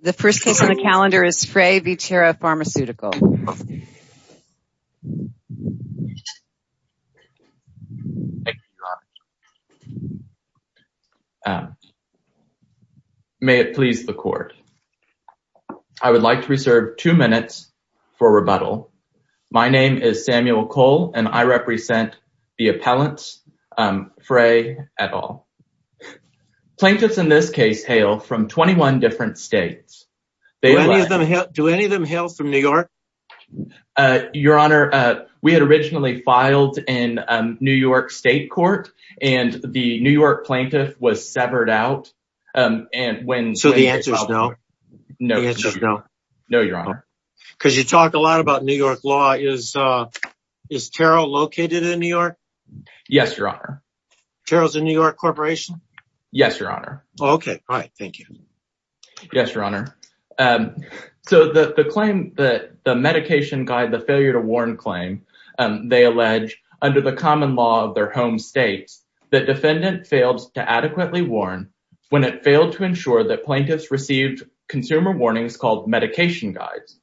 The first case on the calendar is Frey v. Taro Pharmaceutical. May it please the court. I would like to reserve two minutes for rebuttal. My name is Samuel Cole and I represent the appellants Frey et al. Plaintiffs in this case hail from 21 different states. Do any of them hail from New York? Your Honor, we had originally filed in New York State Court and the New York plaintiff was severed out. So the answer is no? No, Your Honor. Because you talk a lot about New York law. Is Taro located in New York? Yes, Your Honor. Taro is a New York corporation? Yes, Your Honor. Okay, fine. Thank you. Yes, Your Honor. So the claim that the medication guide, the failure to warn claim, they allege under the common law of their home states, that defendant failed to adequately warn when it failed to ensure that plaintiffs received consumer warnings called medication guides.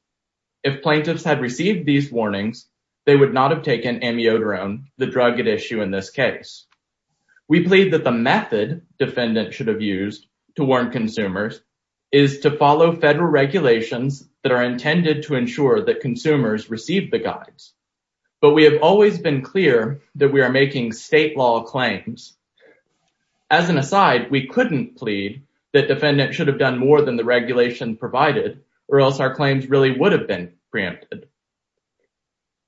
If plaintiffs had received these warnings, they would not have taken amiodarone, the drug at issue in this case. We plead that the method defendant should have used to warn consumers is to follow federal regulations that are intended to ensure that consumers receive the guides. But we have always been clear that we are making state law claims. As an aside, we couldn't plead that defendant should have done more than the regulation provided or else our claims really would have been preempted.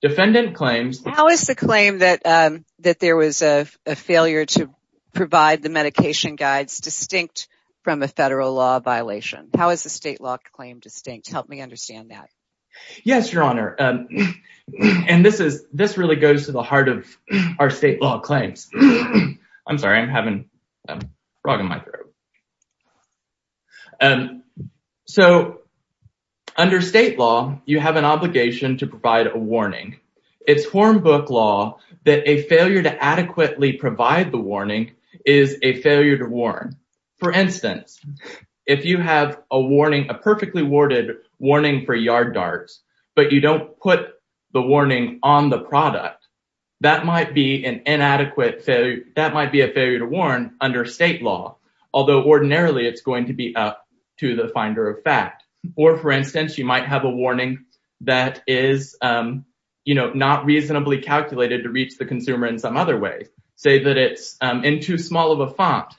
How is the claim that there was a failure to provide the medication guides distinct from a federal law violation? How is the state law claim distinct? Help me understand that. Yes, Your Honor. And this really goes to the heart of our state law claims. I'm sorry. I'm having a frog in my throat. So under state law, you have an obligation to provide a warning. It's form book law that a failure to adequately provide the warning is a failure to warn. For instance, if you have a warning, a perfectly worded warning for yard darts, but you don't put the warning on the product, that might be an inadequate failure. That might be a failure to warn under state law, although ordinarily it's going to be up to the finder of fact. Or, for instance, you might have a warning that is not reasonably calculated to reach the consumer in some other way. Say that it's in too small of a font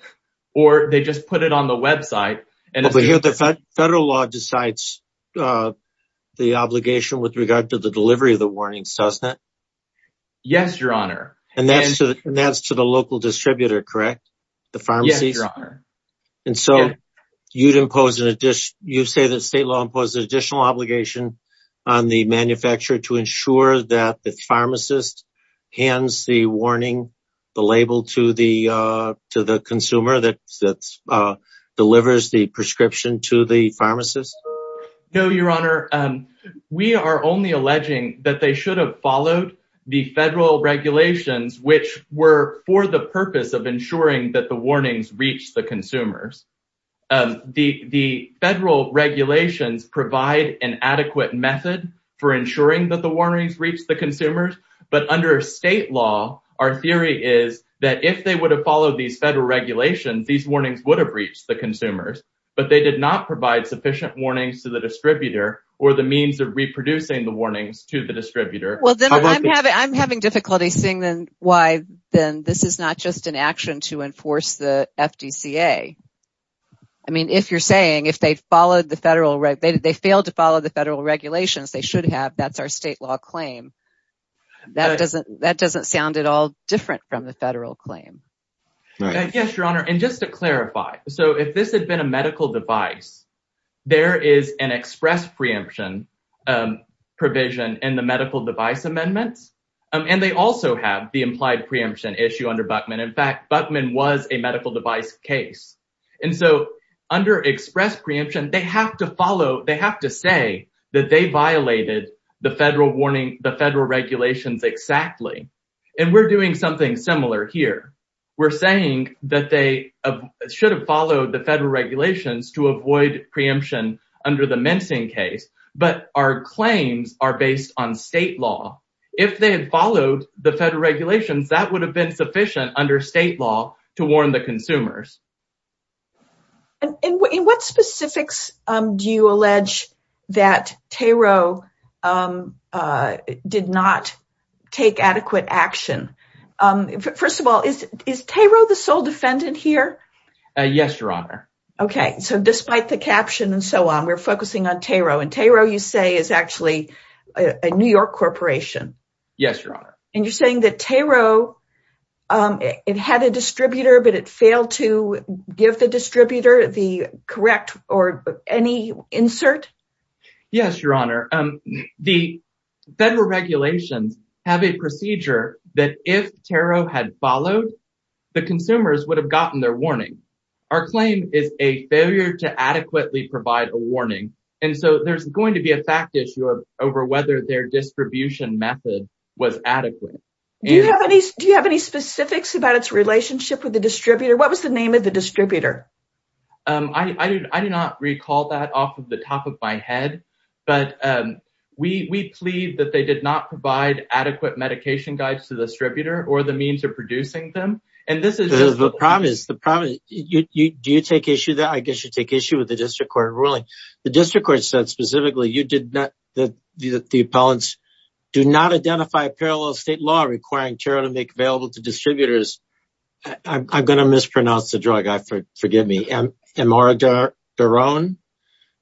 or they just put it on the website. But here the federal law decides the obligation with regard to the delivery of the warnings, doesn't it? Yes, Your Honor. And that's to the local distributor, correct? Yes, Your Honor. And so you'd impose an additional obligation on the manufacturer to ensure that the pharmacist hands the warning, the label, to the consumer that delivers the prescription to the pharmacist? No, Your Honor. We are only alleging that they should have followed the federal regulations, which were for the purpose of ensuring that the warnings reach the consumers. The federal regulations provide an adequate method for ensuring that the warnings reach the consumers. But under state law, our theory is that if they would have followed these federal regulations, these warnings would have reached the consumers. But they did not provide sufficient warnings to the distributor or the means of reproducing the warnings to the distributor. I'm having difficulty seeing why then this is not just an action to enforce the FDCA. I mean, if you're saying if they failed to follow the federal regulations, they should have, that's our state law claim. That doesn't sound at all different from the federal claim. Yes, Your Honor. And just to clarify, so if this had been a medical device, there is an express preemption provision in the medical device amendments. And they also have the implied preemption issue under Buckman. In fact, Buckman was a medical device case. And so under express preemption, they have to follow, they have to say that they violated the federal warning, the federal regulations exactly. And we're doing something similar here. We're saying that they should have followed the federal regulations to avoid preemption under the mincing case. But our claims are based on state law. If they had followed the federal regulations, that would have been sufficient under state law to warn the consumers. And in what specifics do you allege that Taro did not take adequate action? First of all, is Taro the sole defendant here? Yes, Your Honor. OK, so despite the caption and so on, we're focusing on Taro. And Taro, you say, is actually a New York corporation. Yes, Your Honor. And you're saying that Taro, it had a distributor, but it failed to give the distributor the correct or any insert? Yes, Your Honor. The federal regulations have a procedure that if Taro had followed, the consumers would have gotten their warning. Our claim is a failure to adequately provide a warning. And so there's going to be a fact issue over whether their distribution method was adequate. Do you have any specifics about its relationship with the distributor? What was the name of the distributor? I do not recall that off of the top of my head. But we plead that they did not provide adequate medication guides to the distributor or the means of producing them. The problem is, do you take issue with that? I guess you take issue with the district court ruling. The district court said specifically that the appellants do not identify a parallel state law requiring Taro to make available to distributors. I'm going to mispronounce the drug. Forgive me. Amidiron?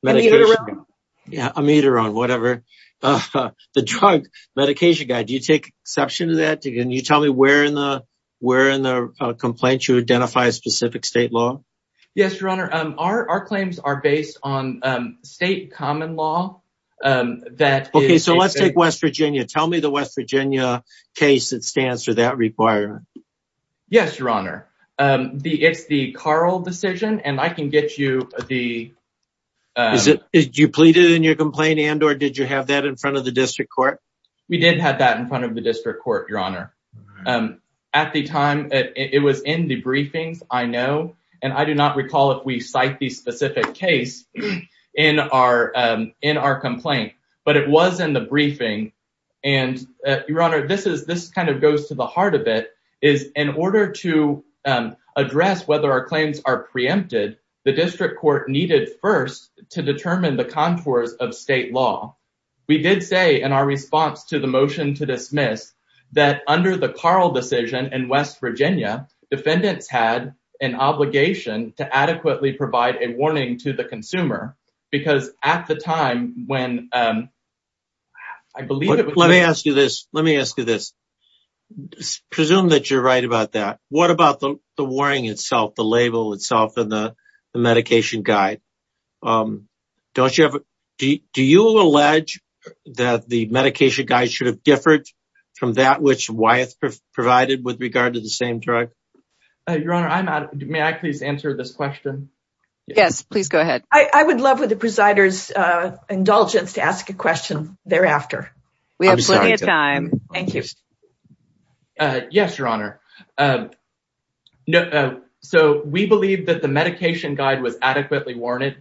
Amidiron. Yeah, Amidiron, whatever. The drug medication guide, do you take exception to that? Can you tell me where in the complaint you identify a specific state law? Yes, Your Honor. Our claims are based on state common law. Okay, so let's take West Virginia. Tell me the West Virginia case that stands for that requirement. Yes, Your Honor. It's the Carl decision, and I can get you the... Did you plead it in your complaint, and or did you have that in front of the district court? We did have that in front of the district court, Your Honor. At the time, it was in the briefings, I know, and I do not recall if we cite the specific case in our complaint, but it was in the briefing. And, Your Honor, this kind of goes to the heart of it, is in order to address whether our claims are preempted, the district court needed first to determine the contours of state law. We did say in our response to the motion to dismiss that under the Carl decision in West Virginia, defendants had an obligation to adequately provide a warning to the consumer, because at the time when I believe it was... Let me ask you this. Let me ask you this. Presume that you're right about that. What about the warning itself, the label itself, and the medication guide? Don't you ever... Do you allege that the medication guide should have differed from that which Wyeth provided with regard to the same drug? Your Honor, may I please answer this question? Yes, please go ahead. I would love, with the presider's indulgence, to ask a question thereafter. We have plenty of time. Thank you. Yes, Your Honor. So, we believe that the medication guide was adequately worded.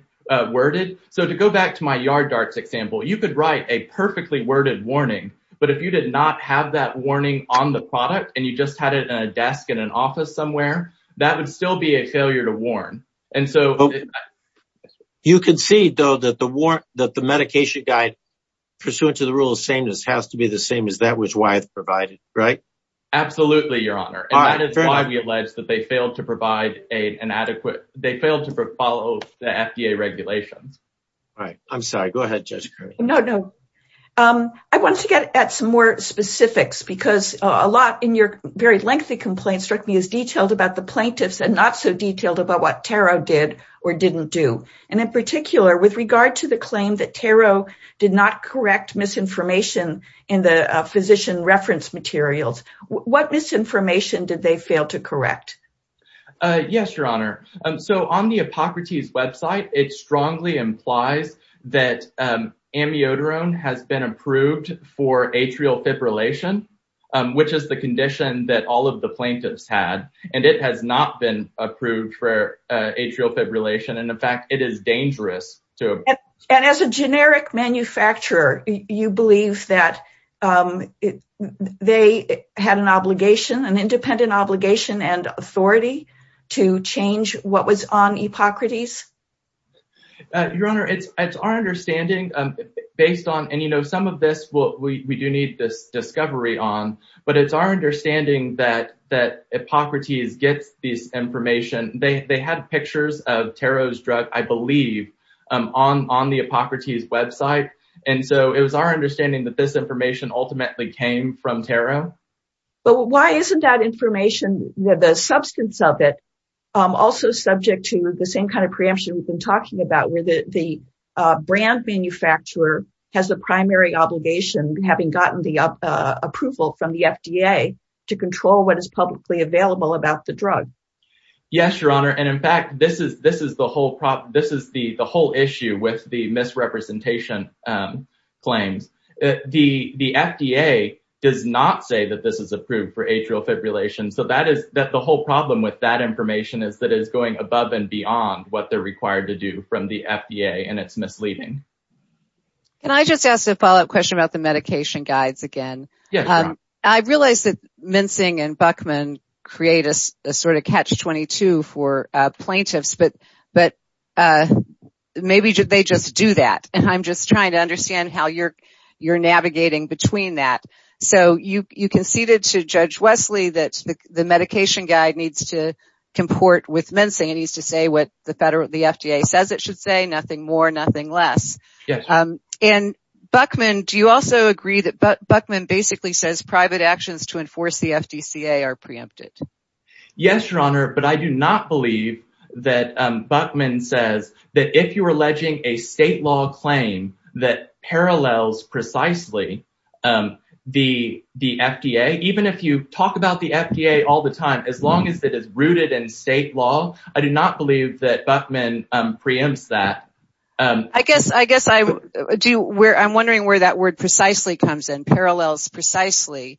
So, to go back to my yard darts example, you could write a perfectly worded warning, but if you did not have that warning on the product and you just had it in a desk in an office somewhere, that would still be a failure to warn. You can see, though, that the medication guide pursuant to the rule of sameness has to be the same as that which Wyeth provided, right? Absolutely, Your Honor. And that is why we allege that they failed to provide an adequate... They failed to follow the FDA regulations. All right. I'm sorry. Go ahead, Judge Curry. No, no. I wanted to get at some more specifics because a lot in your very lengthy complaint struck me as detailed about the plaintiffs and not so detailed about what Taro did or didn't do. And in particular, with regard to the claim that Taro did not correct misinformation in the physician reference materials, what misinformation did they fail to correct? Yes, Your Honor. So on the Hippocrates website, it strongly implies that amiodarone has been approved for atrial fibrillation, which is the condition that all of the plaintiffs had, and it has not been approved for atrial fibrillation. And as a generic manufacturer, you believe that they had an obligation, an independent obligation and authority to change what was on Hippocrates? Your Honor, it's our understanding based on... And some of this we do need this discovery on, but it's our understanding that Hippocrates gets this information. They had pictures of Taro's drug, I believe, on the Hippocrates website. And so it was our understanding that this information ultimately came from Taro. But why isn't that information, the substance of it, also subject to the same kind of preemption we've been talking about where the brand manufacturer has the primary obligation, having gotten the approval from the FDA, to control what is publicly available about the drug? Yes, Your Honor. And in fact, this is the whole issue with the misrepresentation claims. The FDA does not say that this is approved for atrial fibrillation. So the whole problem with that information is that it is going above and beyond what they're required to do from the FDA, and it's misleading. Can I just ask a follow-up question about the medication guides again? Yes, Your Honor. I realize that mincing and Buckman create a sort of catch-22 for plaintiffs, but maybe they just do that. I'm just trying to understand how you're navigating between that. So you conceded to Judge Wesley that the medication guide needs to comport with mincing. It needs to say what the FDA says it should say, nothing more, nothing less. Yes. And Buckman, do you also agree that Buckman basically says private actions to enforce the FDCA are preempted? Yes, Your Honor, but I do not believe that Buckman says that if you're alleging a state law claim that parallels precisely the FDA, even if you talk about the FDA all the time, as long as it is rooted in state law, I do not believe that Buckman preempts that. I guess I'm wondering where that word precisely comes in, parallels precisely.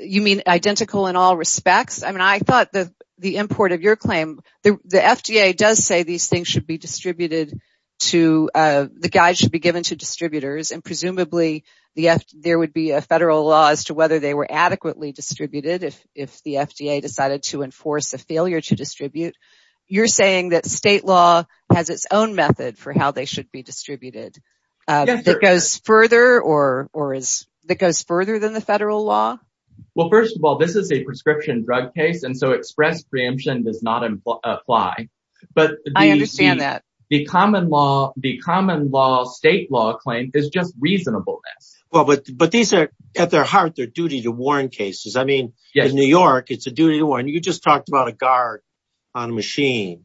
You mean identical in all respects? I mean, I thought the import of your claim, the FDA does say these things should be distributed to, the guide should be given to distributors, and presumably there would be a federal law as to whether they were adequately distributed if the FDA decided to enforce a failure to distribute. You're saying that state law has its own method for how they should be distributed. That goes further than the federal law? Well, first of all, this is a prescription drug case, and so express preemption does not apply. I understand that. But the common law state law claim is just reasonableness. But these are, at their heart, their duty to warn cases. I mean, in New York, it's a duty to warn. You just talked about a guard on a machine.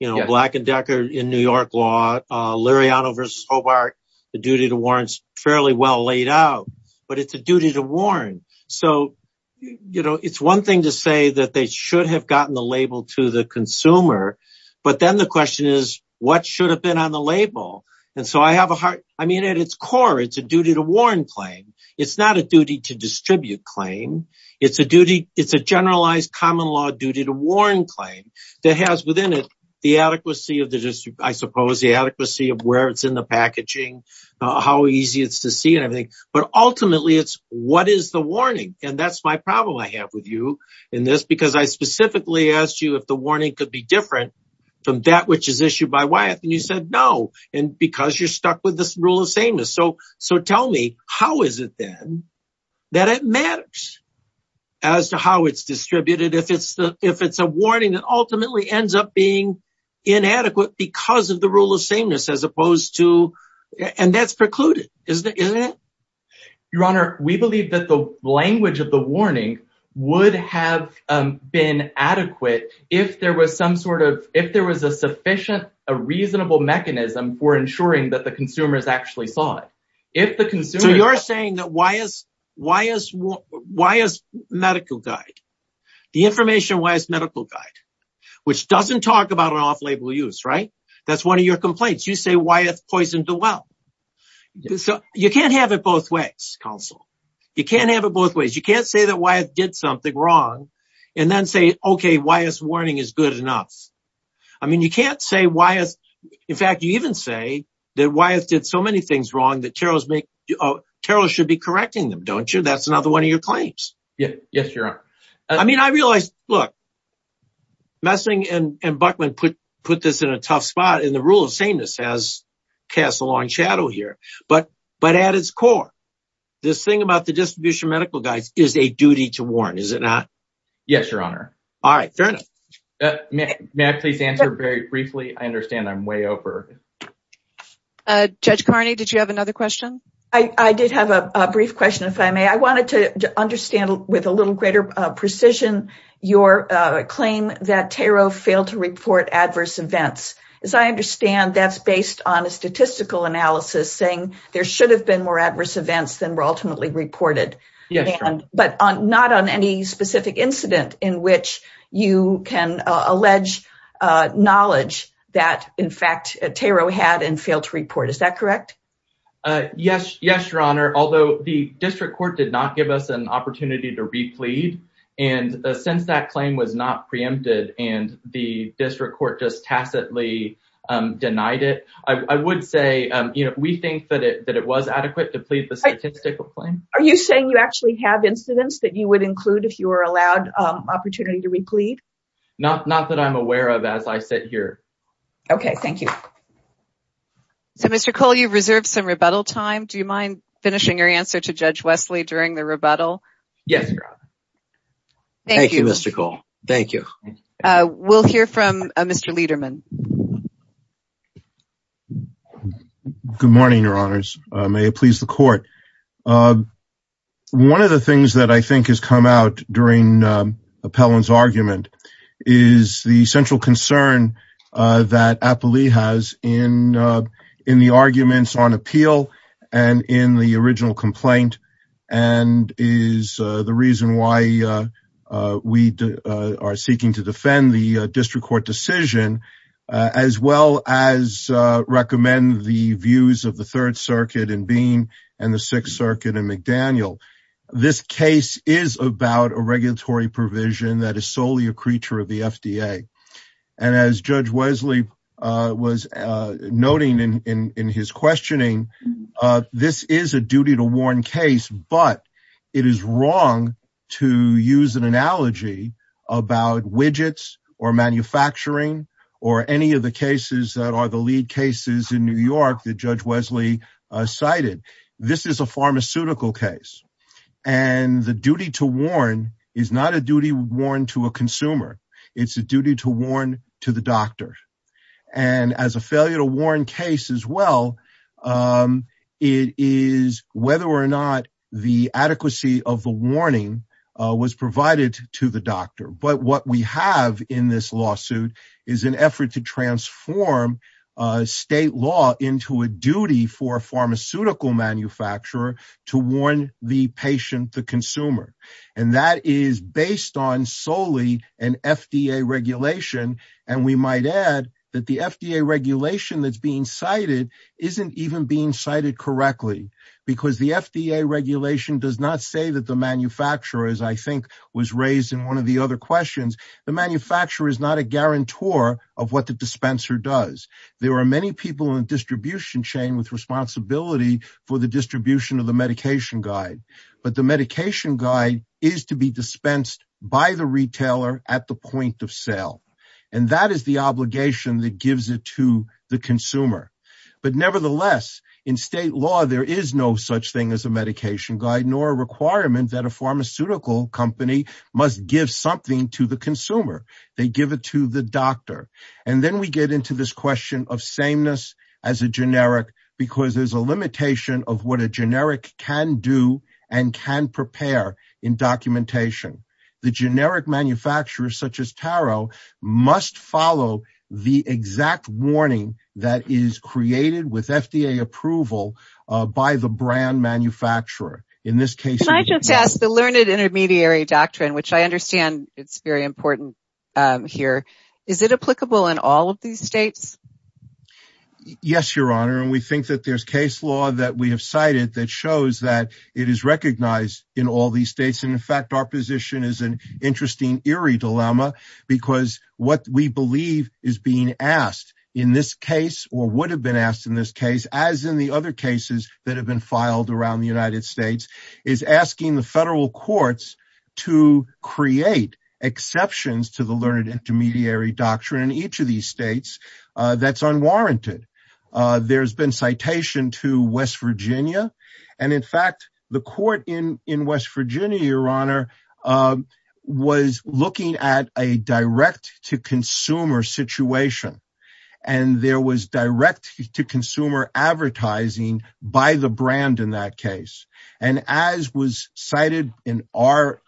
Black and Decker in New York law, Liriano versus Hobart, the duty to warn is fairly well laid out. But it's a duty to warn. So, you know, it's one thing to say that they should have gotten the label to the consumer. But then the question is, what should have been on the label? And so I have a hard, I mean, at its core, it's a duty to warn claim. It's not a duty to distribute claim. It's a duty. It's a generalized common law duty to warn claim that has within it the adequacy of the, I suppose, the adequacy of where it's in the packaging, how easy it's to see and everything. But ultimately, it's what is the warning? And that's my problem I have with you in this, because I specifically asked you if the warning could be different from that which is issued by Wyeth. And you said no, because you're stuck with this rule of sameness. So tell me, how is it then that it matters as to how it's distributed? If it's a warning that ultimately ends up being inadequate because of the rule of sameness as opposed to, and that's precluded, isn't it? Your Honor, we believe that the language of the warning would have been adequate if there was some sort of, if there was a sufficient, a reasonable mechanism for ensuring that the consumers actually saw it. So you're saying that Wyeth's medical guide, the information Wyeth's medical guide, which doesn't talk about an off-label use, right? That's one of your complaints. You say Wyeth poisoned the well. You can't have it both ways, counsel. You can't have it both ways. You can't say that Wyeth did something wrong and then say, okay, Wyeth's warning is good enough. I mean, you can't say Wyeth, in fact, you even say that Wyeth did so many things wrong that Terrell should be correcting them, don't you? That's another one of your claims. Yes, Your Honor. I mean, I realize, look, Messing and Buckman put this in a tough spot, and the rule of sameness has cast a long shadow here. But at its core, this thing about the distribution of medical guides is a duty to warn, is it not? Yes, Your Honor. All right. Fair enough. May I please answer very briefly? I understand I'm way over. Judge Carney, did you have another question? I did have a brief question, if I may. I wanted to understand with a little greater precision your claim that Terrell failed to report adverse events. As I understand, that's based on a statistical analysis saying there should have been more adverse events than were ultimately reported. Yes, Your Honor. But not on any specific incident in which you can allege knowledge that, in fact, Terrell had and failed to report. Is that correct? Yes, Your Honor. Although the district court did not give us an opportunity to re-plead, and since that claim was not preempted and the district court just tacitly denied it, I would say we think that it was adequate to plead the statistical claim. Are you saying you actually have incidents that you would include if you were allowed opportunity to re-plead? Not that I'm aware of as I sit here. Okay. Thank you. So, Mr. Cole, you reserved some rebuttal time. Do you mind finishing your answer to Judge Wesley during the rebuttal? Yes, Your Honor. Thank you, Mr. Cole. Thank you. We'll hear from Mr. Lederman. May it please the court. One of the things that I think has come out during Appellant's argument is the central concern that Appellee has in the arguments on appeal and in the original complaint and is the reason why we are seeking to defend the district court decision as well as recommend the views of the Third Circuit in Bean and the Sixth Circuit in McDaniel. This case is about a regulatory provision that is solely a creature of the FDA. And as Judge Wesley was noting in his questioning, this is a duty to warn case, but it is wrong to use an analogy about widgets or manufacturing or any of the cases that are the lead cases in New York that Judge Wesley cited. This is a pharmaceutical case. And the duty to warn is not a duty warned to a consumer. It's a duty to warn to the doctor. And as a failure to warn case as well, it is whether or not the adequacy of the warning was provided to the doctor. But what we have in this lawsuit is an effort to transform state law into a duty for a pharmaceutical manufacturer to warn the patient, the consumer. And that is based on solely an FDA regulation. And we might add that the FDA regulation that's being cited isn't even being cited correctly because the FDA regulation does not say that the manufacturers, I think, was raised in one of the other questions. The manufacturer is not a guarantor of what the dispenser does. There are many people in the distribution chain with responsibility for the distribution of the medication guide. But the medication guide is to be dispensed by the retailer at the point of sale. And that is the obligation that gives it to the consumer. But nevertheless, in state law, there is no such thing as a medication guide nor a requirement that a pharmaceutical company must give something to the consumer. They give it to the doctor. And then we get into this question of sameness as a generic because there's a limitation of what a generic can do and can prepare in documentation. The generic manufacturers, such as Taro, must follow the exact warning that is created with FDA approval by the brand manufacturer. Can I just ask the learned intermediary doctrine, which I understand it's very important here, is it applicable in all of these states? Yes, Your Honor. And we think that there's case law that we have cited that shows that it is recognized in all these states. In fact, our position is an interesting eerie dilemma because what we believe is being asked in this case or would have been asked in this case, as in the other cases that have been filed around the United States, is asking the federal courts to create exceptions to the learned intermediary doctrine in each of these states. That's unwarranted. There's been citation to West Virginia. And in fact, the court in West Virginia, Your Honor, was looking at a direct-to-consumer situation. And there was direct-to-consumer advertising by the brand in that case. And as was cited in our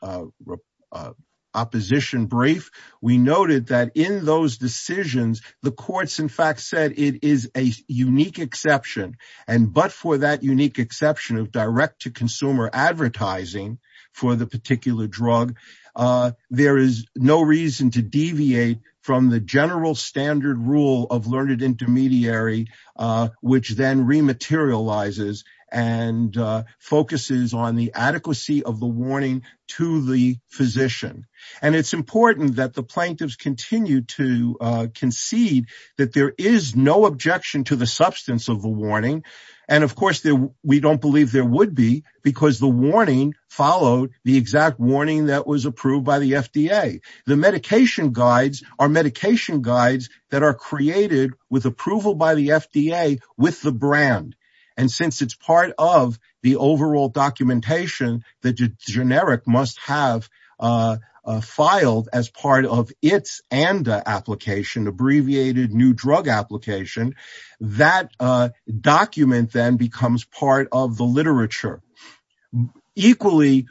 opposition brief, we noted that in those decisions, the courts, in fact, said it is a unique exception. And but for that unique exception of direct-to-consumer advertising for the particular drug, there is no reason to deviate from the general standard rule of learned intermediary, which then rematerializes and focuses on the adequacy of the warning to the physician. And it's important that the plaintiffs continue to concede that there is no objection to the substance of the warning. And, of course, we don't believe there would be because the warning followed the exact warning that was approved by the FDA. The medication guides are medication guides that are created with approval by the FDA with the brand. And since it's part of the overall documentation, the generic must have filed as part of its ANDA application, Abbreviated New Drug Application. That document then becomes part of the literature. Equally.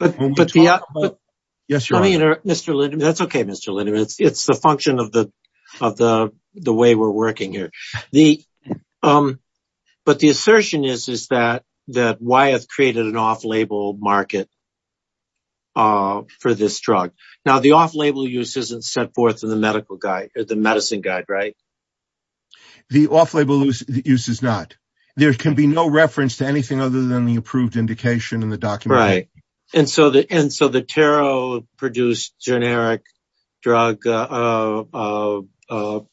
Yes, Your Honor. That's okay, Mr. Lindemann. It's the function of the way we're working here. But the assertion is that Wyeth created an off-label market for this drug. Now, the off-label use isn't set forth in the medicine guide, right? The off-label use is not. There can be no reference to anything other than the approved indication in the document. Right. And so the tarot-produced generic drug analog to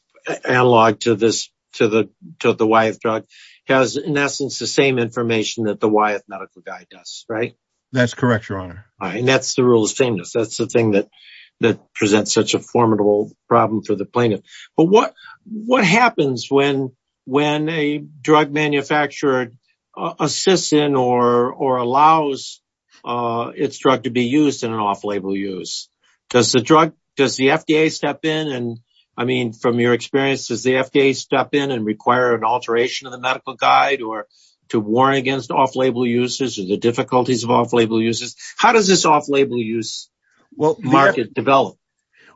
the Wyeth drug has, in essence, the same information that the Wyeth medical guide does, right? That's correct, Your Honor. And that's the rule of sameness. That's the thing that presents such a formidable problem for the plaintiff. But what happens when a drug manufacturer assists in or allows its drug to be used in an off-label use? Does the FDA step in? And, I mean, from your experience, does the FDA step in and require an alteration of the medical guide or to warn against off-label uses or the difficulties of off-label uses? How does this off-label use market develop?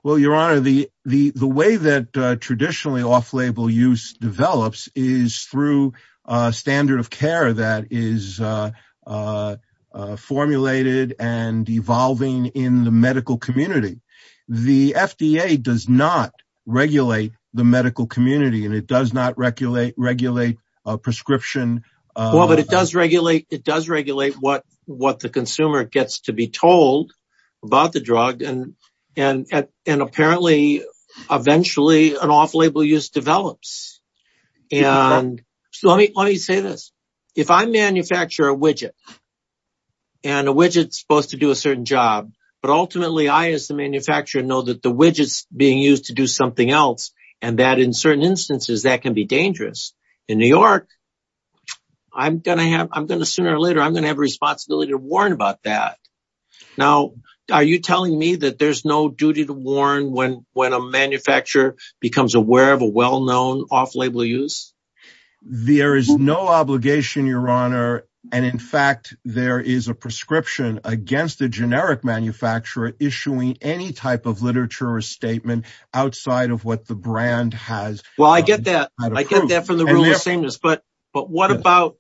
Well, Your Honor, the way that traditionally off-label use develops is through a standard of care that is formulated and evolving in the medical community. The FDA does not regulate the medical community, and it does not regulate a prescription. Well, but it does regulate what the consumer gets to be told about the drug, and apparently, eventually, an off-label use develops. And let me say this. If I manufacture a widget, and a widget's supposed to do a certain job, but ultimately I, as the manufacturer, know that the widget's being used to do something else and that, in certain instances, that can be dangerous. In New York, sooner or later, I'm going to have a responsibility to warn about that. Now, are you telling me that there's no duty to warn when a manufacturer becomes aware of a well-known off-label use? There is no obligation, Your Honor, and, in fact, there is a prescription against a generic manufacturer issuing any type of literature or statement outside of what the brand has. Well, I get that. I get that from the rule of sameness. But what about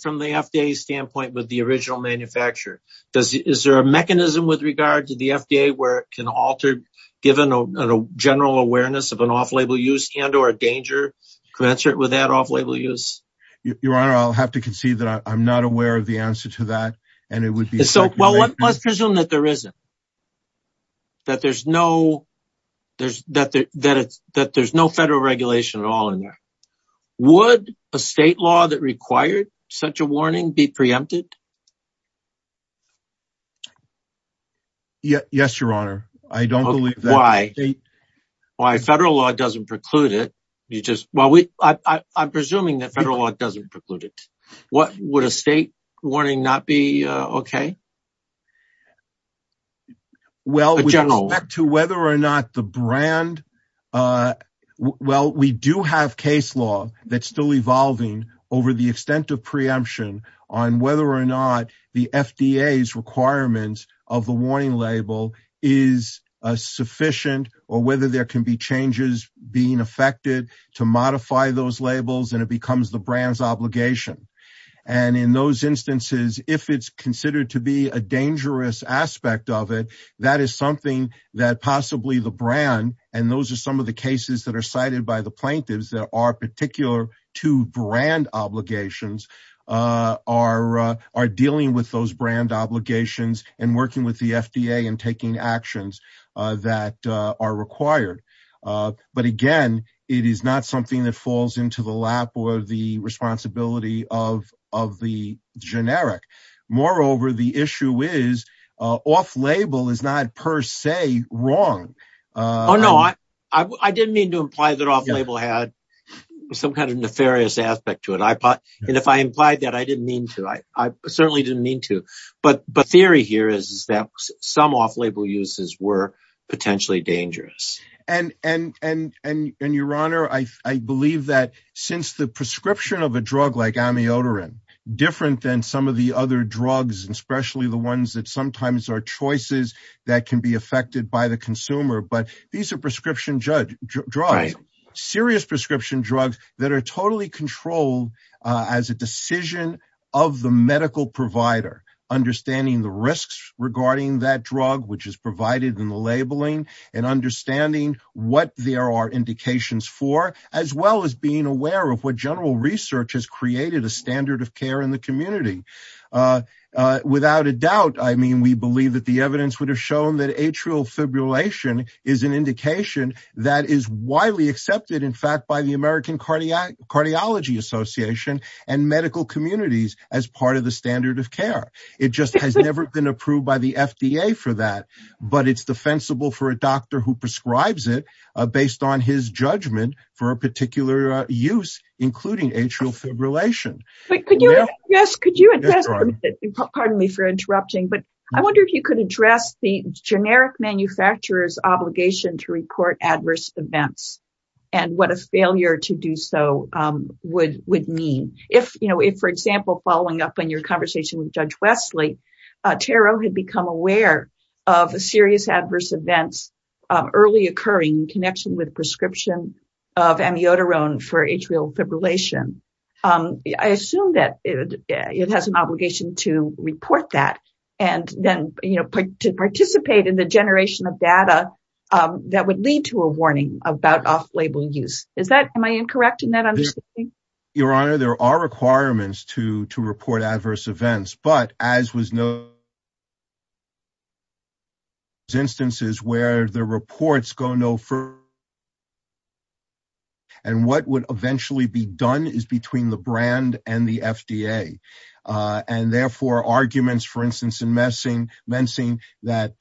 from the FDA's standpoint with the original manufacturer? Is there a mechanism with regard to the FDA where it can alter, given a general awareness of an off-label use and or a danger to answer it with that off-label use? Your Honor, I'll have to concede that I'm not aware of the answer to that, and it would be… Well, let's presume that there isn't, that there's no federal regulation at all in there. Would a state law that required such a warning be preempted? Yes, Your Honor. I don't believe that. Why? Federal law doesn't preclude it. I'm presuming that federal law doesn't preclude it. Would a state warning not be okay? Well, with respect to whether or not the brand… Well, we do have case law that's still evolving over the extent of preemption on whether or not the FDA's requirements of the warning label is sufficient or whether there can be changes being effected to modify those labels, and it becomes the brand's obligation. And in those instances, if it's considered to be a dangerous aspect of it, that is something that possibly the brand, and those are some of the cases that are cited by the plaintiffs that are particular to brand obligations, are dealing with those brand obligations and working with the FDA and taking actions that are required. But again, it is not something that falls into the lap or the responsibility of the generic. Moreover, the issue is off-label is not per se wrong. Oh, no. I didn't mean to imply that off-label had some kind of nefarious aspect to it. And if I implied that, I didn't mean to. I certainly didn't mean to. But theory here is that some off-label uses were potentially dangerous. And, Your Honor, I believe that since the prescription of a drug like amiodarone, different than some of the other drugs, especially the ones that sometimes are choices that can be affected by the consumer, but these are prescription drugs, serious prescription drugs that are totally controlled as a decision of the medical provider, understanding the risks regarding that drug, which is provided in the labeling, and understanding what there are indications for, as well as being aware of what general research has created a standard of care in the community. Without a doubt, I mean, we believe that the evidence would have shown that atrial fibrillation is an indication that is widely accepted, in fact, by the American Cardiology Association and medical communities as part of the standard of care. It just has never been approved by the FDA for that. But it's defensible for a doctor who prescribes it based on his judgment for a particular use, including atrial fibrillation. Yes, could you address, pardon me for interrupting, but I wonder if you could address the generic manufacturer's obligation to report adverse events and what a failure to do so would would mean if, you know, if, for example, following up on your conversation with Judge Wesley, Tero had become aware of serious adverse events early occurring in connection with prescription of amiodarone for atrial fibrillation. I assume that it has an obligation to report that and then, you know, to participate in the generation of data that would lead to a warning about off-label use. Is that, am I incorrect in that understanding? Your Honor, there are requirements to report adverse events, but as was noted, there are instances where the reports go no further and what would eventually be done is between the brand and the FDA. And therefore, arguments, for instance, in mensing that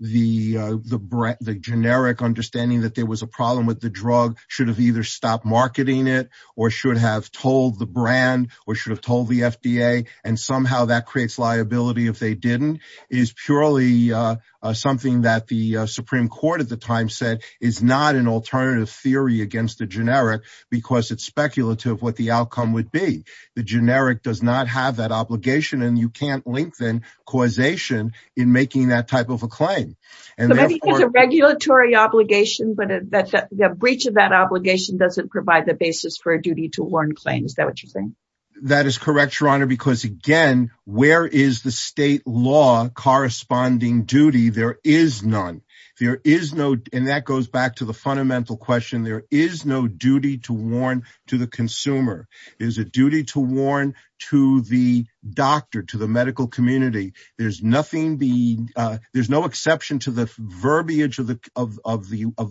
the generic understanding that there was a problem with the drug should have either stopped marketing it or should have told the brand or should have told the FDA and somehow that creates liability if they didn't is purely something that the Supreme Court at the time said is not an alternative theory against the generic because it's speculative what the outcome would be. The generic does not have that obligation and you can't lengthen causation in making that type of a claim. So maybe it's a regulatory obligation, but the breach of that obligation doesn't provide the basis for a duty to warn claim. Is that what you're saying? That is correct, Your Honor, because again, where is the state law corresponding duty? There is none. There is no, and that goes back to the fundamental question. There is no duty to warn to the consumer. It is a duty to warn to the doctor, to the medical community. There's no exception to the verbiage of the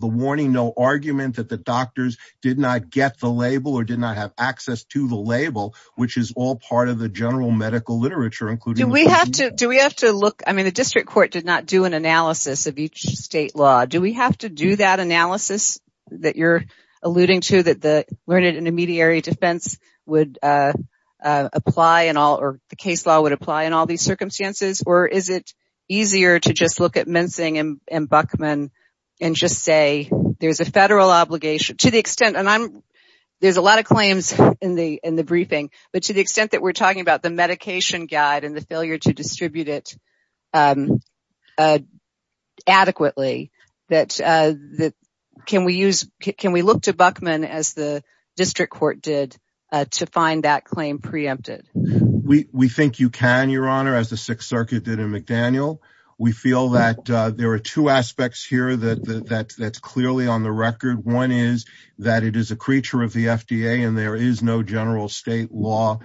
warning, no argument that the doctors did not get the label or did not have access to the label, which is all part of the general medical literature. The district court did not do an analysis of each state law. Do we have to do that analysis that you're alluding to that the learned intermediary defense would apply in all or the case law would apply in all these circumstances? Or is it easier to just look at Mincing and Buckman and just say there's a federal obligation? There's a lot of claims in the briefing, but to the extent that we're talking about the medication guide and the failure to distribute it adequately, can we look to Buckman as the district court did to find that claim preempted? We think you can, Your Honor, as the Sixth Circuit did in McDaniel. We feel that there are two aspects here that's clearly on the record. One is that it is a creature of the FDA and there is no general state law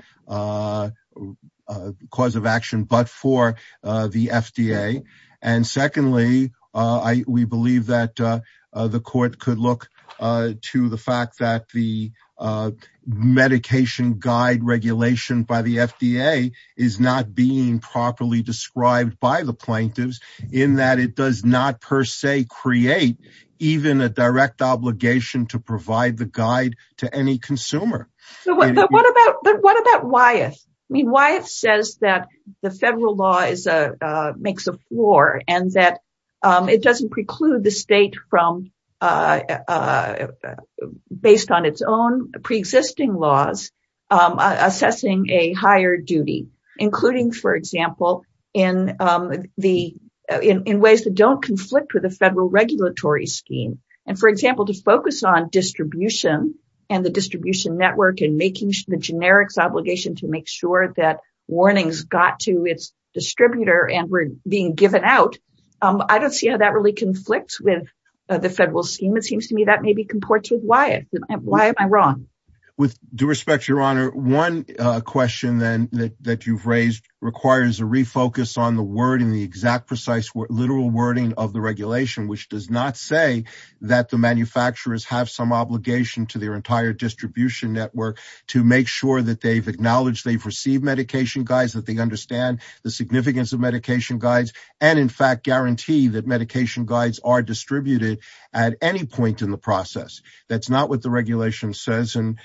cause of action but for the FDA. And secondly, we believe that the court could look to the fact that the medication guide regulation by the FDA is not being properly described by the plaintiffs in that it does not per se create even a direct obligation to provide the guide to any consumer. What about Wyeth? Wyeth says that the federal law makes a floor and that it doesn't preclude the state from, based on its own pre-existing laws, assessing a higher duty, including, for example, in ways that don't conflict with the federal regulatory scheme. And for example, to focus on distribution and the distribution network and making the generics obligation to make sure that warnings got to its distributor and were being given out, I don't see how that really conflicts with the federal scheme. It seems to me that maybe comports with Wyeth. Why am I wrong? With due respect, Your Honor, one question then that you've raised requires a refocus on the word and the exact precise literal wording of the regulation, which does not say that the manufacturers have some obligation to their entire distribution network to make sure that they've acknowledged they've received medication guides, that they understand the significance of medication guides, and in fact guarantee that medication guides are distributed at any point in the process. That's not what the regulation says and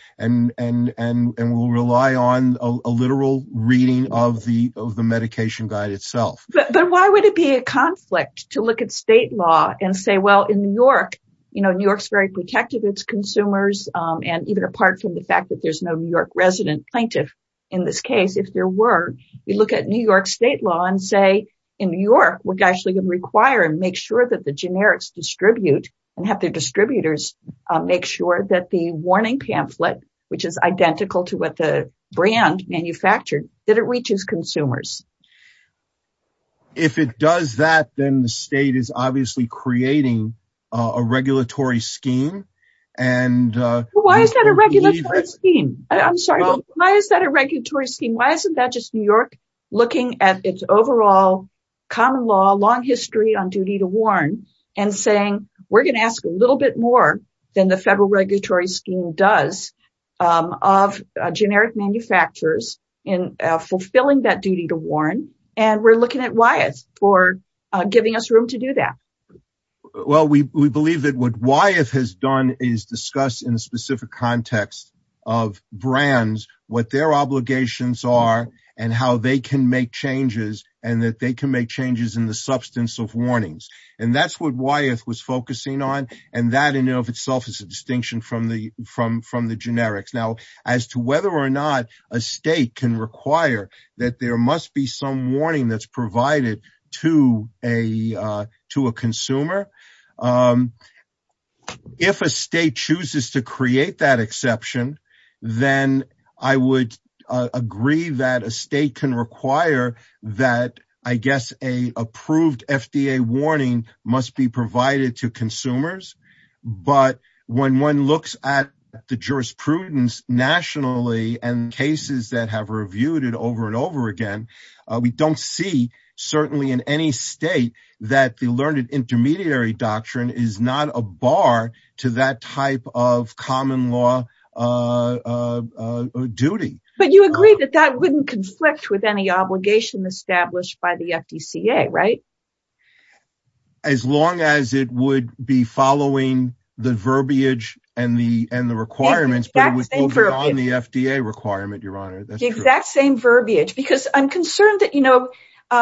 will rely on a literal reading of the medication guide itself. But why would it be a conflict to look at state law and say, well, in New York, you know, New York's very protective of its consumers and even apart from the fact that there's no New York resident plaintiff in this case, if there were, you look at New York state law and say, in New York, we're actually going to require and make sure that the generics distribute and have their distributors make sure that the warning pamphlet, which is identical to what the brand manufactured, that it reaches consumers. If it does that, then the state is obviously creating a regulatory scheme. Why is that a regulatory scheme? I'm sorry. Why is that a regulatory scheme? Why isn't that just New York looking at its overall common law, long history on duty to warn and saying, we're going to ask a little bit more than the federal regulatory scheme does of generic manufacturers in fulfilling that duty to warn. And we're looking at Wyeth for giving us room to do that. Well, we believe that what Wyeth has done is discuss in a specific context of brands, what their obligations are and how they can make changes and that they can make changes in the substance of warnings. And that's what Wyeth was focusing on. And that in and of itself is a distinction from the generics. Now, as to whether or not a state can require that there must be some warning that's provided to a consumer. If a state chooses to create that exception, then I would agree that a state can require that, I guess, a approved FDA warning must be provided to consumers. But when one looks at the jurisprudence nationally and cases that have reviewed it over and over again, we don't see certainly in any state that the learned intermediary doctrine is not a bar to that type of common law duty. But you agree that that wouldn't conflict with any obligation established by the FDCA, right? As long as it would be following the verbiage and the requirements, but on the FDA requirement, Your Honor. The exact same verbiage. Because I'm concerned that, you know,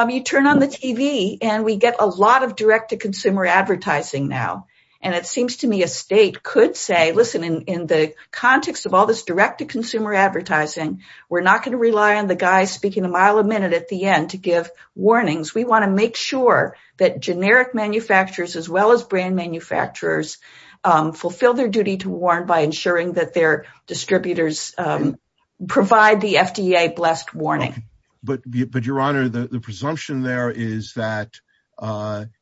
you turn on the TV and we get a lot of direct-to-consumer advertising now. And it seems to me a state could say, listen, in the context of all this direct-to-consumer advertising, we're not going to rely on the guy speaking a mile a minute at the end to give warnings. We want to make sure that generic manufacturers as well as brand manufacturers fulfill their duty to warn by ensuring that their distributors provide the FDA-blessed warning. But Your Honor, the presumption there is that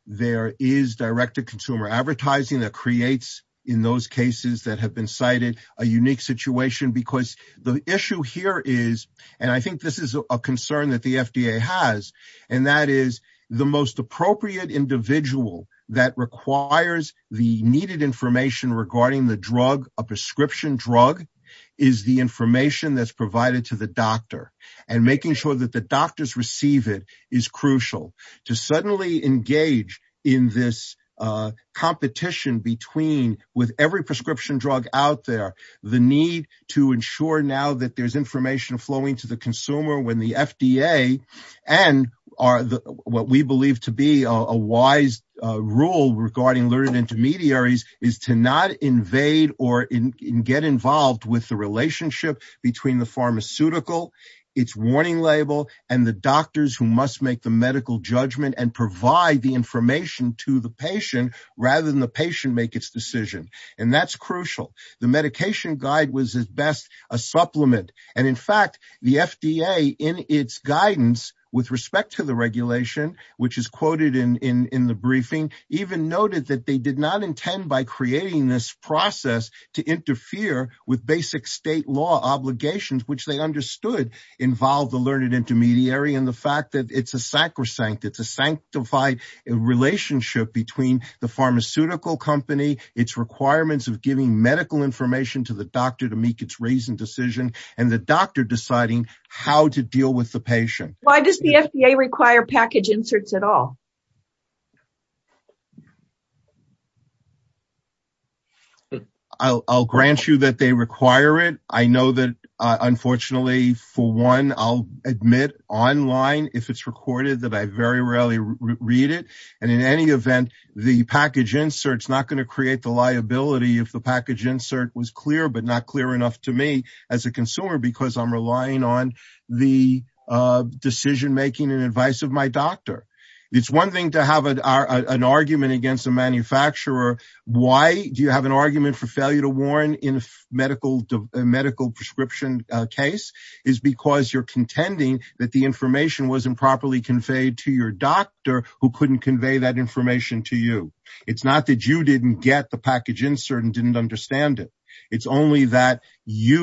there is direct-to-consumer advertising that creates, in those cases that have been cited, a unique situation because the issue here is, and I think this is a concern that the FDA has, and that is the most appropriate individual that requires the needed information regarding the drug, a prescription drug, is the information that's provided to the doctor. And making sure that the doctors receive it is crucial to suddenly engage in this competition between, with every prescription drug out there, the need to ensure now that there's information flowing to the consumer when the FDA and what we believe to be a wise rule regarding learned intermediaries is to not invade or get involved with the relationship between the pharmaceutical its warning label and the doctors who must make the medical judgment and provide the information to the patient rather than the patient make its decision. And that's crucial. The medication guide was at best a supplement. And in fact, the FDA, in its guidance with respect to the regulation, which is quoted in the briefing, even noted that they did not intend by creating this process to interfere with basic state law obligations, which they understood involved the learned intermediary and the fact that it's a sacrosanct. It's a sanctified relationship between the pharmaceutical company, its requirements of giving medical information to the doctor to make its reasoned decision, and the doctor deciding how to deal with the patient. Why does the FDA require package inserts at all? I'll grant you that they require it. I know that, unfortunately, for one, I'll admit online if it's recorded that I very rarely read it. And in any event, the package inserts not going to create the liability if the package insert was clear but not clear enough to me as a consumer because I'm relying on the decision making and advice of my doctor. It's one thing to have an argument against a manufacturer. Why do you have an argument for failure to warn in a medical prescription case is because you're contending that the information wasn't properly conveyed to your doctor who couldn't convey that information to you. It's not that you didn't get the package insert and didn't understand it. It's only that you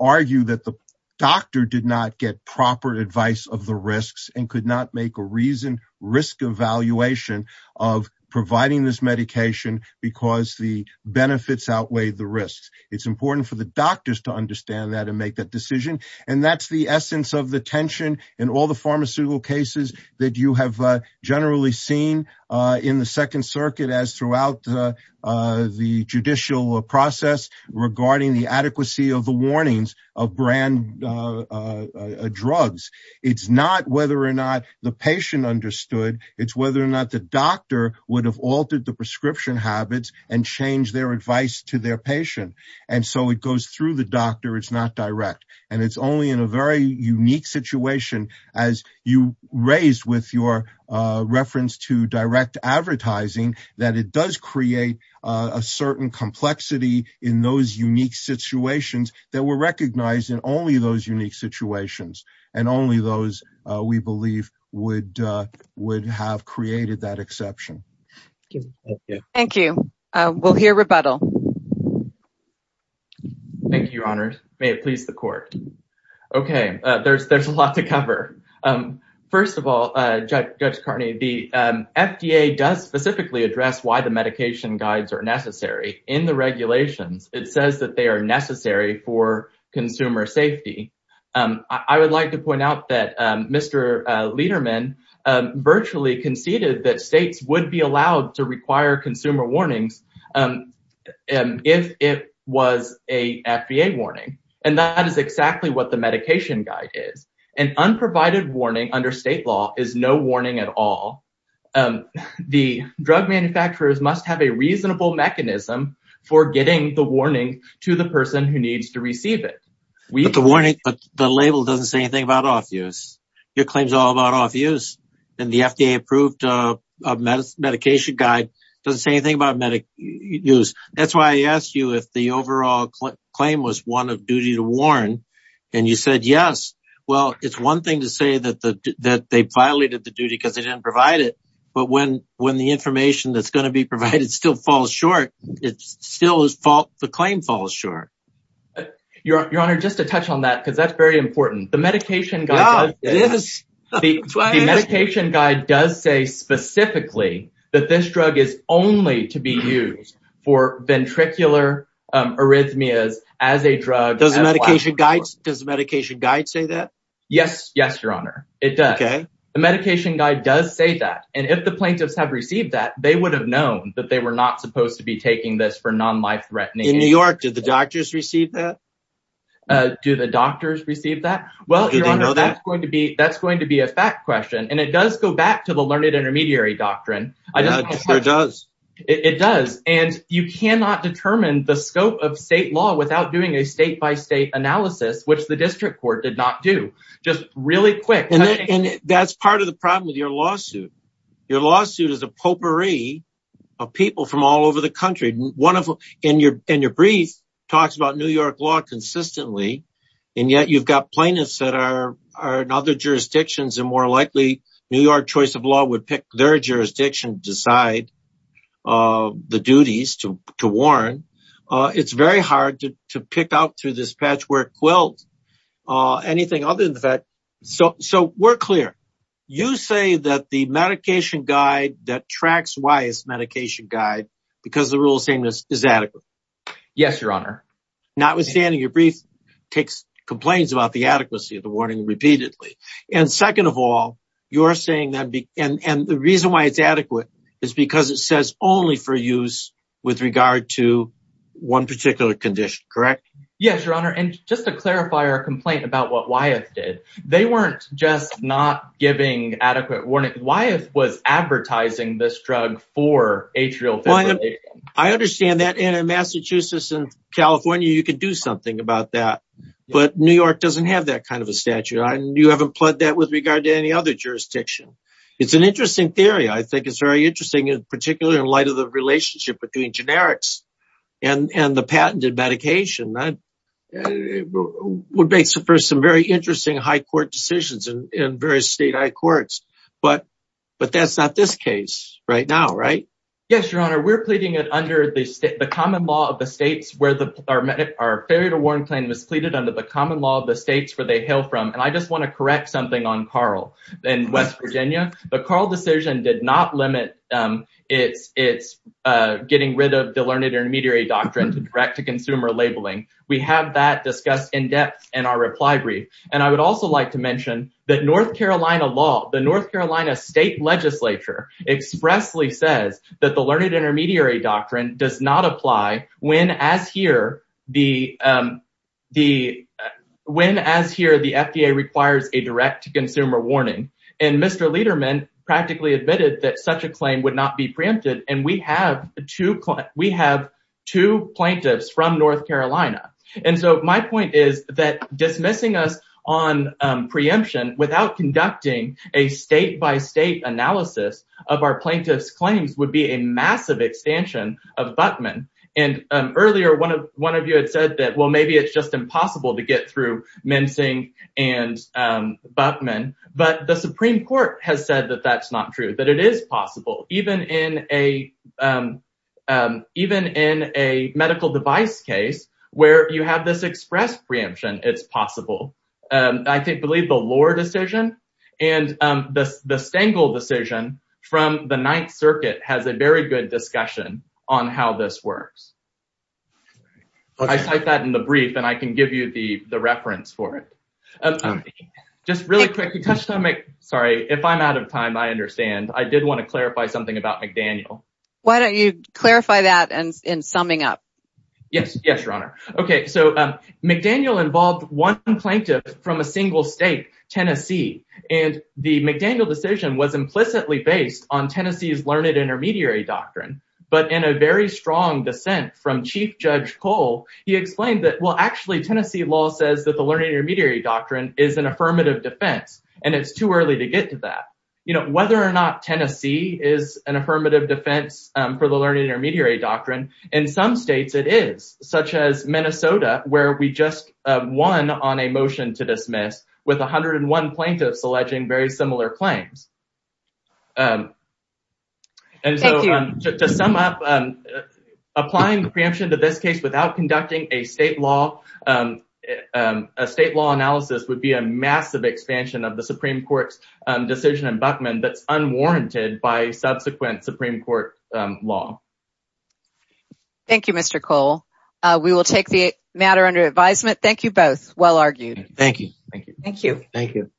argue that the doctor did not get proper advice of the risks and could not make a reasoned risk evaluation of providing this medication because the benefits outweigh the risks. It's important for the doctors to understand that and make that decision. And that's the essence of the tension in all the pharmaceutical cases that you have generally seen in the Second Circuit as throughout the judicial process regarding the adequacy of the warnings of brand drugs. It's not whether or not the patient understood. It's whether or not the doctor would have altered the prescription habits and changed their advice to their patient. And so it goes through the doctor. It's not direct. And it's only in a very unique situation as you raised with your reference to direct advertising that it does create a certain complexity in those unique situations that were recognized in only those unique situations and only those we believe would have created that exception. Thank you. We'll hear rebuttal. Thank you, Your Honor. May it please the court. Okay. There's a lot to cover. First of all, Judge Carney, the FDA does specifically address why the medication guides are necessary in the regulations. It says that they are necessary for consumer safety. I would like to point out that Mr. Lederman virtually conceded that states would be allowed to require consumer warnings if it was a FDA warning. And that is exactly what the medication guide is. An unprovided warning under state law is no warning at all. The drug manufacturers must have a reasonable mechanism for getting the warning to the person who needs to receive it. But the label doesn't say anything about off-use. Your claim is all about off-use. And the FDA-approved medication guide doesn't say anything about off-use. That's why I asked you if the overall claim was one of duty to warn. And you said yes. Well, it's one thing to say that they violated the duty because they didn't provide it. But when the information that's going to be provided still falls short, the claim falls short. Your Honor, just to touch on that because that's very important. The medication guide does say specifically that this drug is only to be used for ventricular arrhythmias as a drug. Does the medication guide say that? Yes. Yes, Your Honor. It does. The medication guide does say that. And if the plaintiffs have received that, they would have known that they were not supposed to be taking this for non-life-threatening. In New York, do the doctors receive that? Do the doctors receive that? Do they know that? Well, Your Honor, that's going to be a fact question. And it does go back to the learned intermediary doctrine. It sure does. It does. And you cannot determine the scope of state law without doing a state-by-state analysis, which the district court did not do. Just really quick. And that's part of the problem with your lawsuit. Your lawsuit is a potpourri of people from all over the country. And your brief talks about New York law consistently, and yet you've got plaintiffs that are in other jurisdictions. And more likely, New York Choice of Law would pick their jurisdiction to decide the duties to warrant. It's very hard to pick out through this patchwork quilt anything other than that. So we're clear. You say that the medication guide that tracks Wyeth's medication guide, because of the rule of sameness, is adequate. Yes, Your Honor. Notwithstanding, your brief takes complaints about the adequacy of the warning repeatedly. And second of all, you're saying that the reason why it's adequate is because it says only for use with regard to one particular condition, correct? Yes, Your Honor. And just to clarify our complaint about what Wyeth did, they weren't just not giving adequate warning. Wyeth was advertising this drug for atrial fibrillation. I understand that. And in Massachusetts and California, you could do something about that. But New York doesn't have that kind of a statute. You haven't pled that with regard to any other jurisdiction. It's an interesting theory. I think it's very interesting, particularly in light of the relationship between generics and the patented medication. That would make for some very interesting high court decisions in various state high courts. But that's not this case right now, right? Yes, Your Honor. We're pleading it under the common law of the states where our failure to warn claim was pleaded under the common law of the states where they hail from. And I just want to correct something on Carl in West Virginia. The Carl decision did not limit its getting rid of the learned intermediary doctrine to direct to consumer labeling. We have that discussed in depth in our reply brief. And I would also like to mention that North Carolina law, the North Carolina state legislature, expressly says that the learned intermediary doctrine does not apply when, as here, the FDA requires a direct to consumer warning. And Mr. Lederman practically admitted that such a claim would not be preempted. And we have two. We have two plaintiffs from North Carolina. And so my point is that dismissing us on preemption without conducting a state by state analysis of our plaintiff's claims would be a massive extension of Buckman. And earlier, one of one of you had said that, well, maybe it's just impossible to get through Mensing and Buckman. But the Supreme Court has said that that's not true, that it is possible. Even in a even in a medical device case where you have this express preemption, it's possible. I believe the lower decision and the Stengel decision from the Ninth Circuit has a very good discussion on how this works. I cite that in the brief and I can give you the reference for it. Just really quick. Sorry, if I'm out of time, I understand. I did want to clarify something about McDaniel. Why don't you clarify that? And in summing up. Yes. Yes, Your Honor. OK, so McDaniel involved one plaintiff from a single state, Tennessee. And the McDaniel decision was implicitly based on Tennessee's learned intermediary doctrine. But in a very strong dissent from Chief Judge Cole, he explained that, well, actually, Tennessee law says that the learned intermediary doctrine is an affirmative defense and it's too early to get to that. You know, whether or not Tennessee is an affirmative defense for the learned intermediary doctrine. In some states it is such as Minnesota, where we just won on a motion to dismiss with one hundred and one plaintiffs alleging very similar claims. And so to sum up, applying the preemption to this case without conducting a state law, a state law analysis would be a massive expansion of the Supreme Court's decision in Buckman that's unwarranted by subsequent Supreme Court law. Thank you, Mr. Cole. We will take the matter under advisement. Thank you both. Well argued. Thank you. Thank you. Thank you.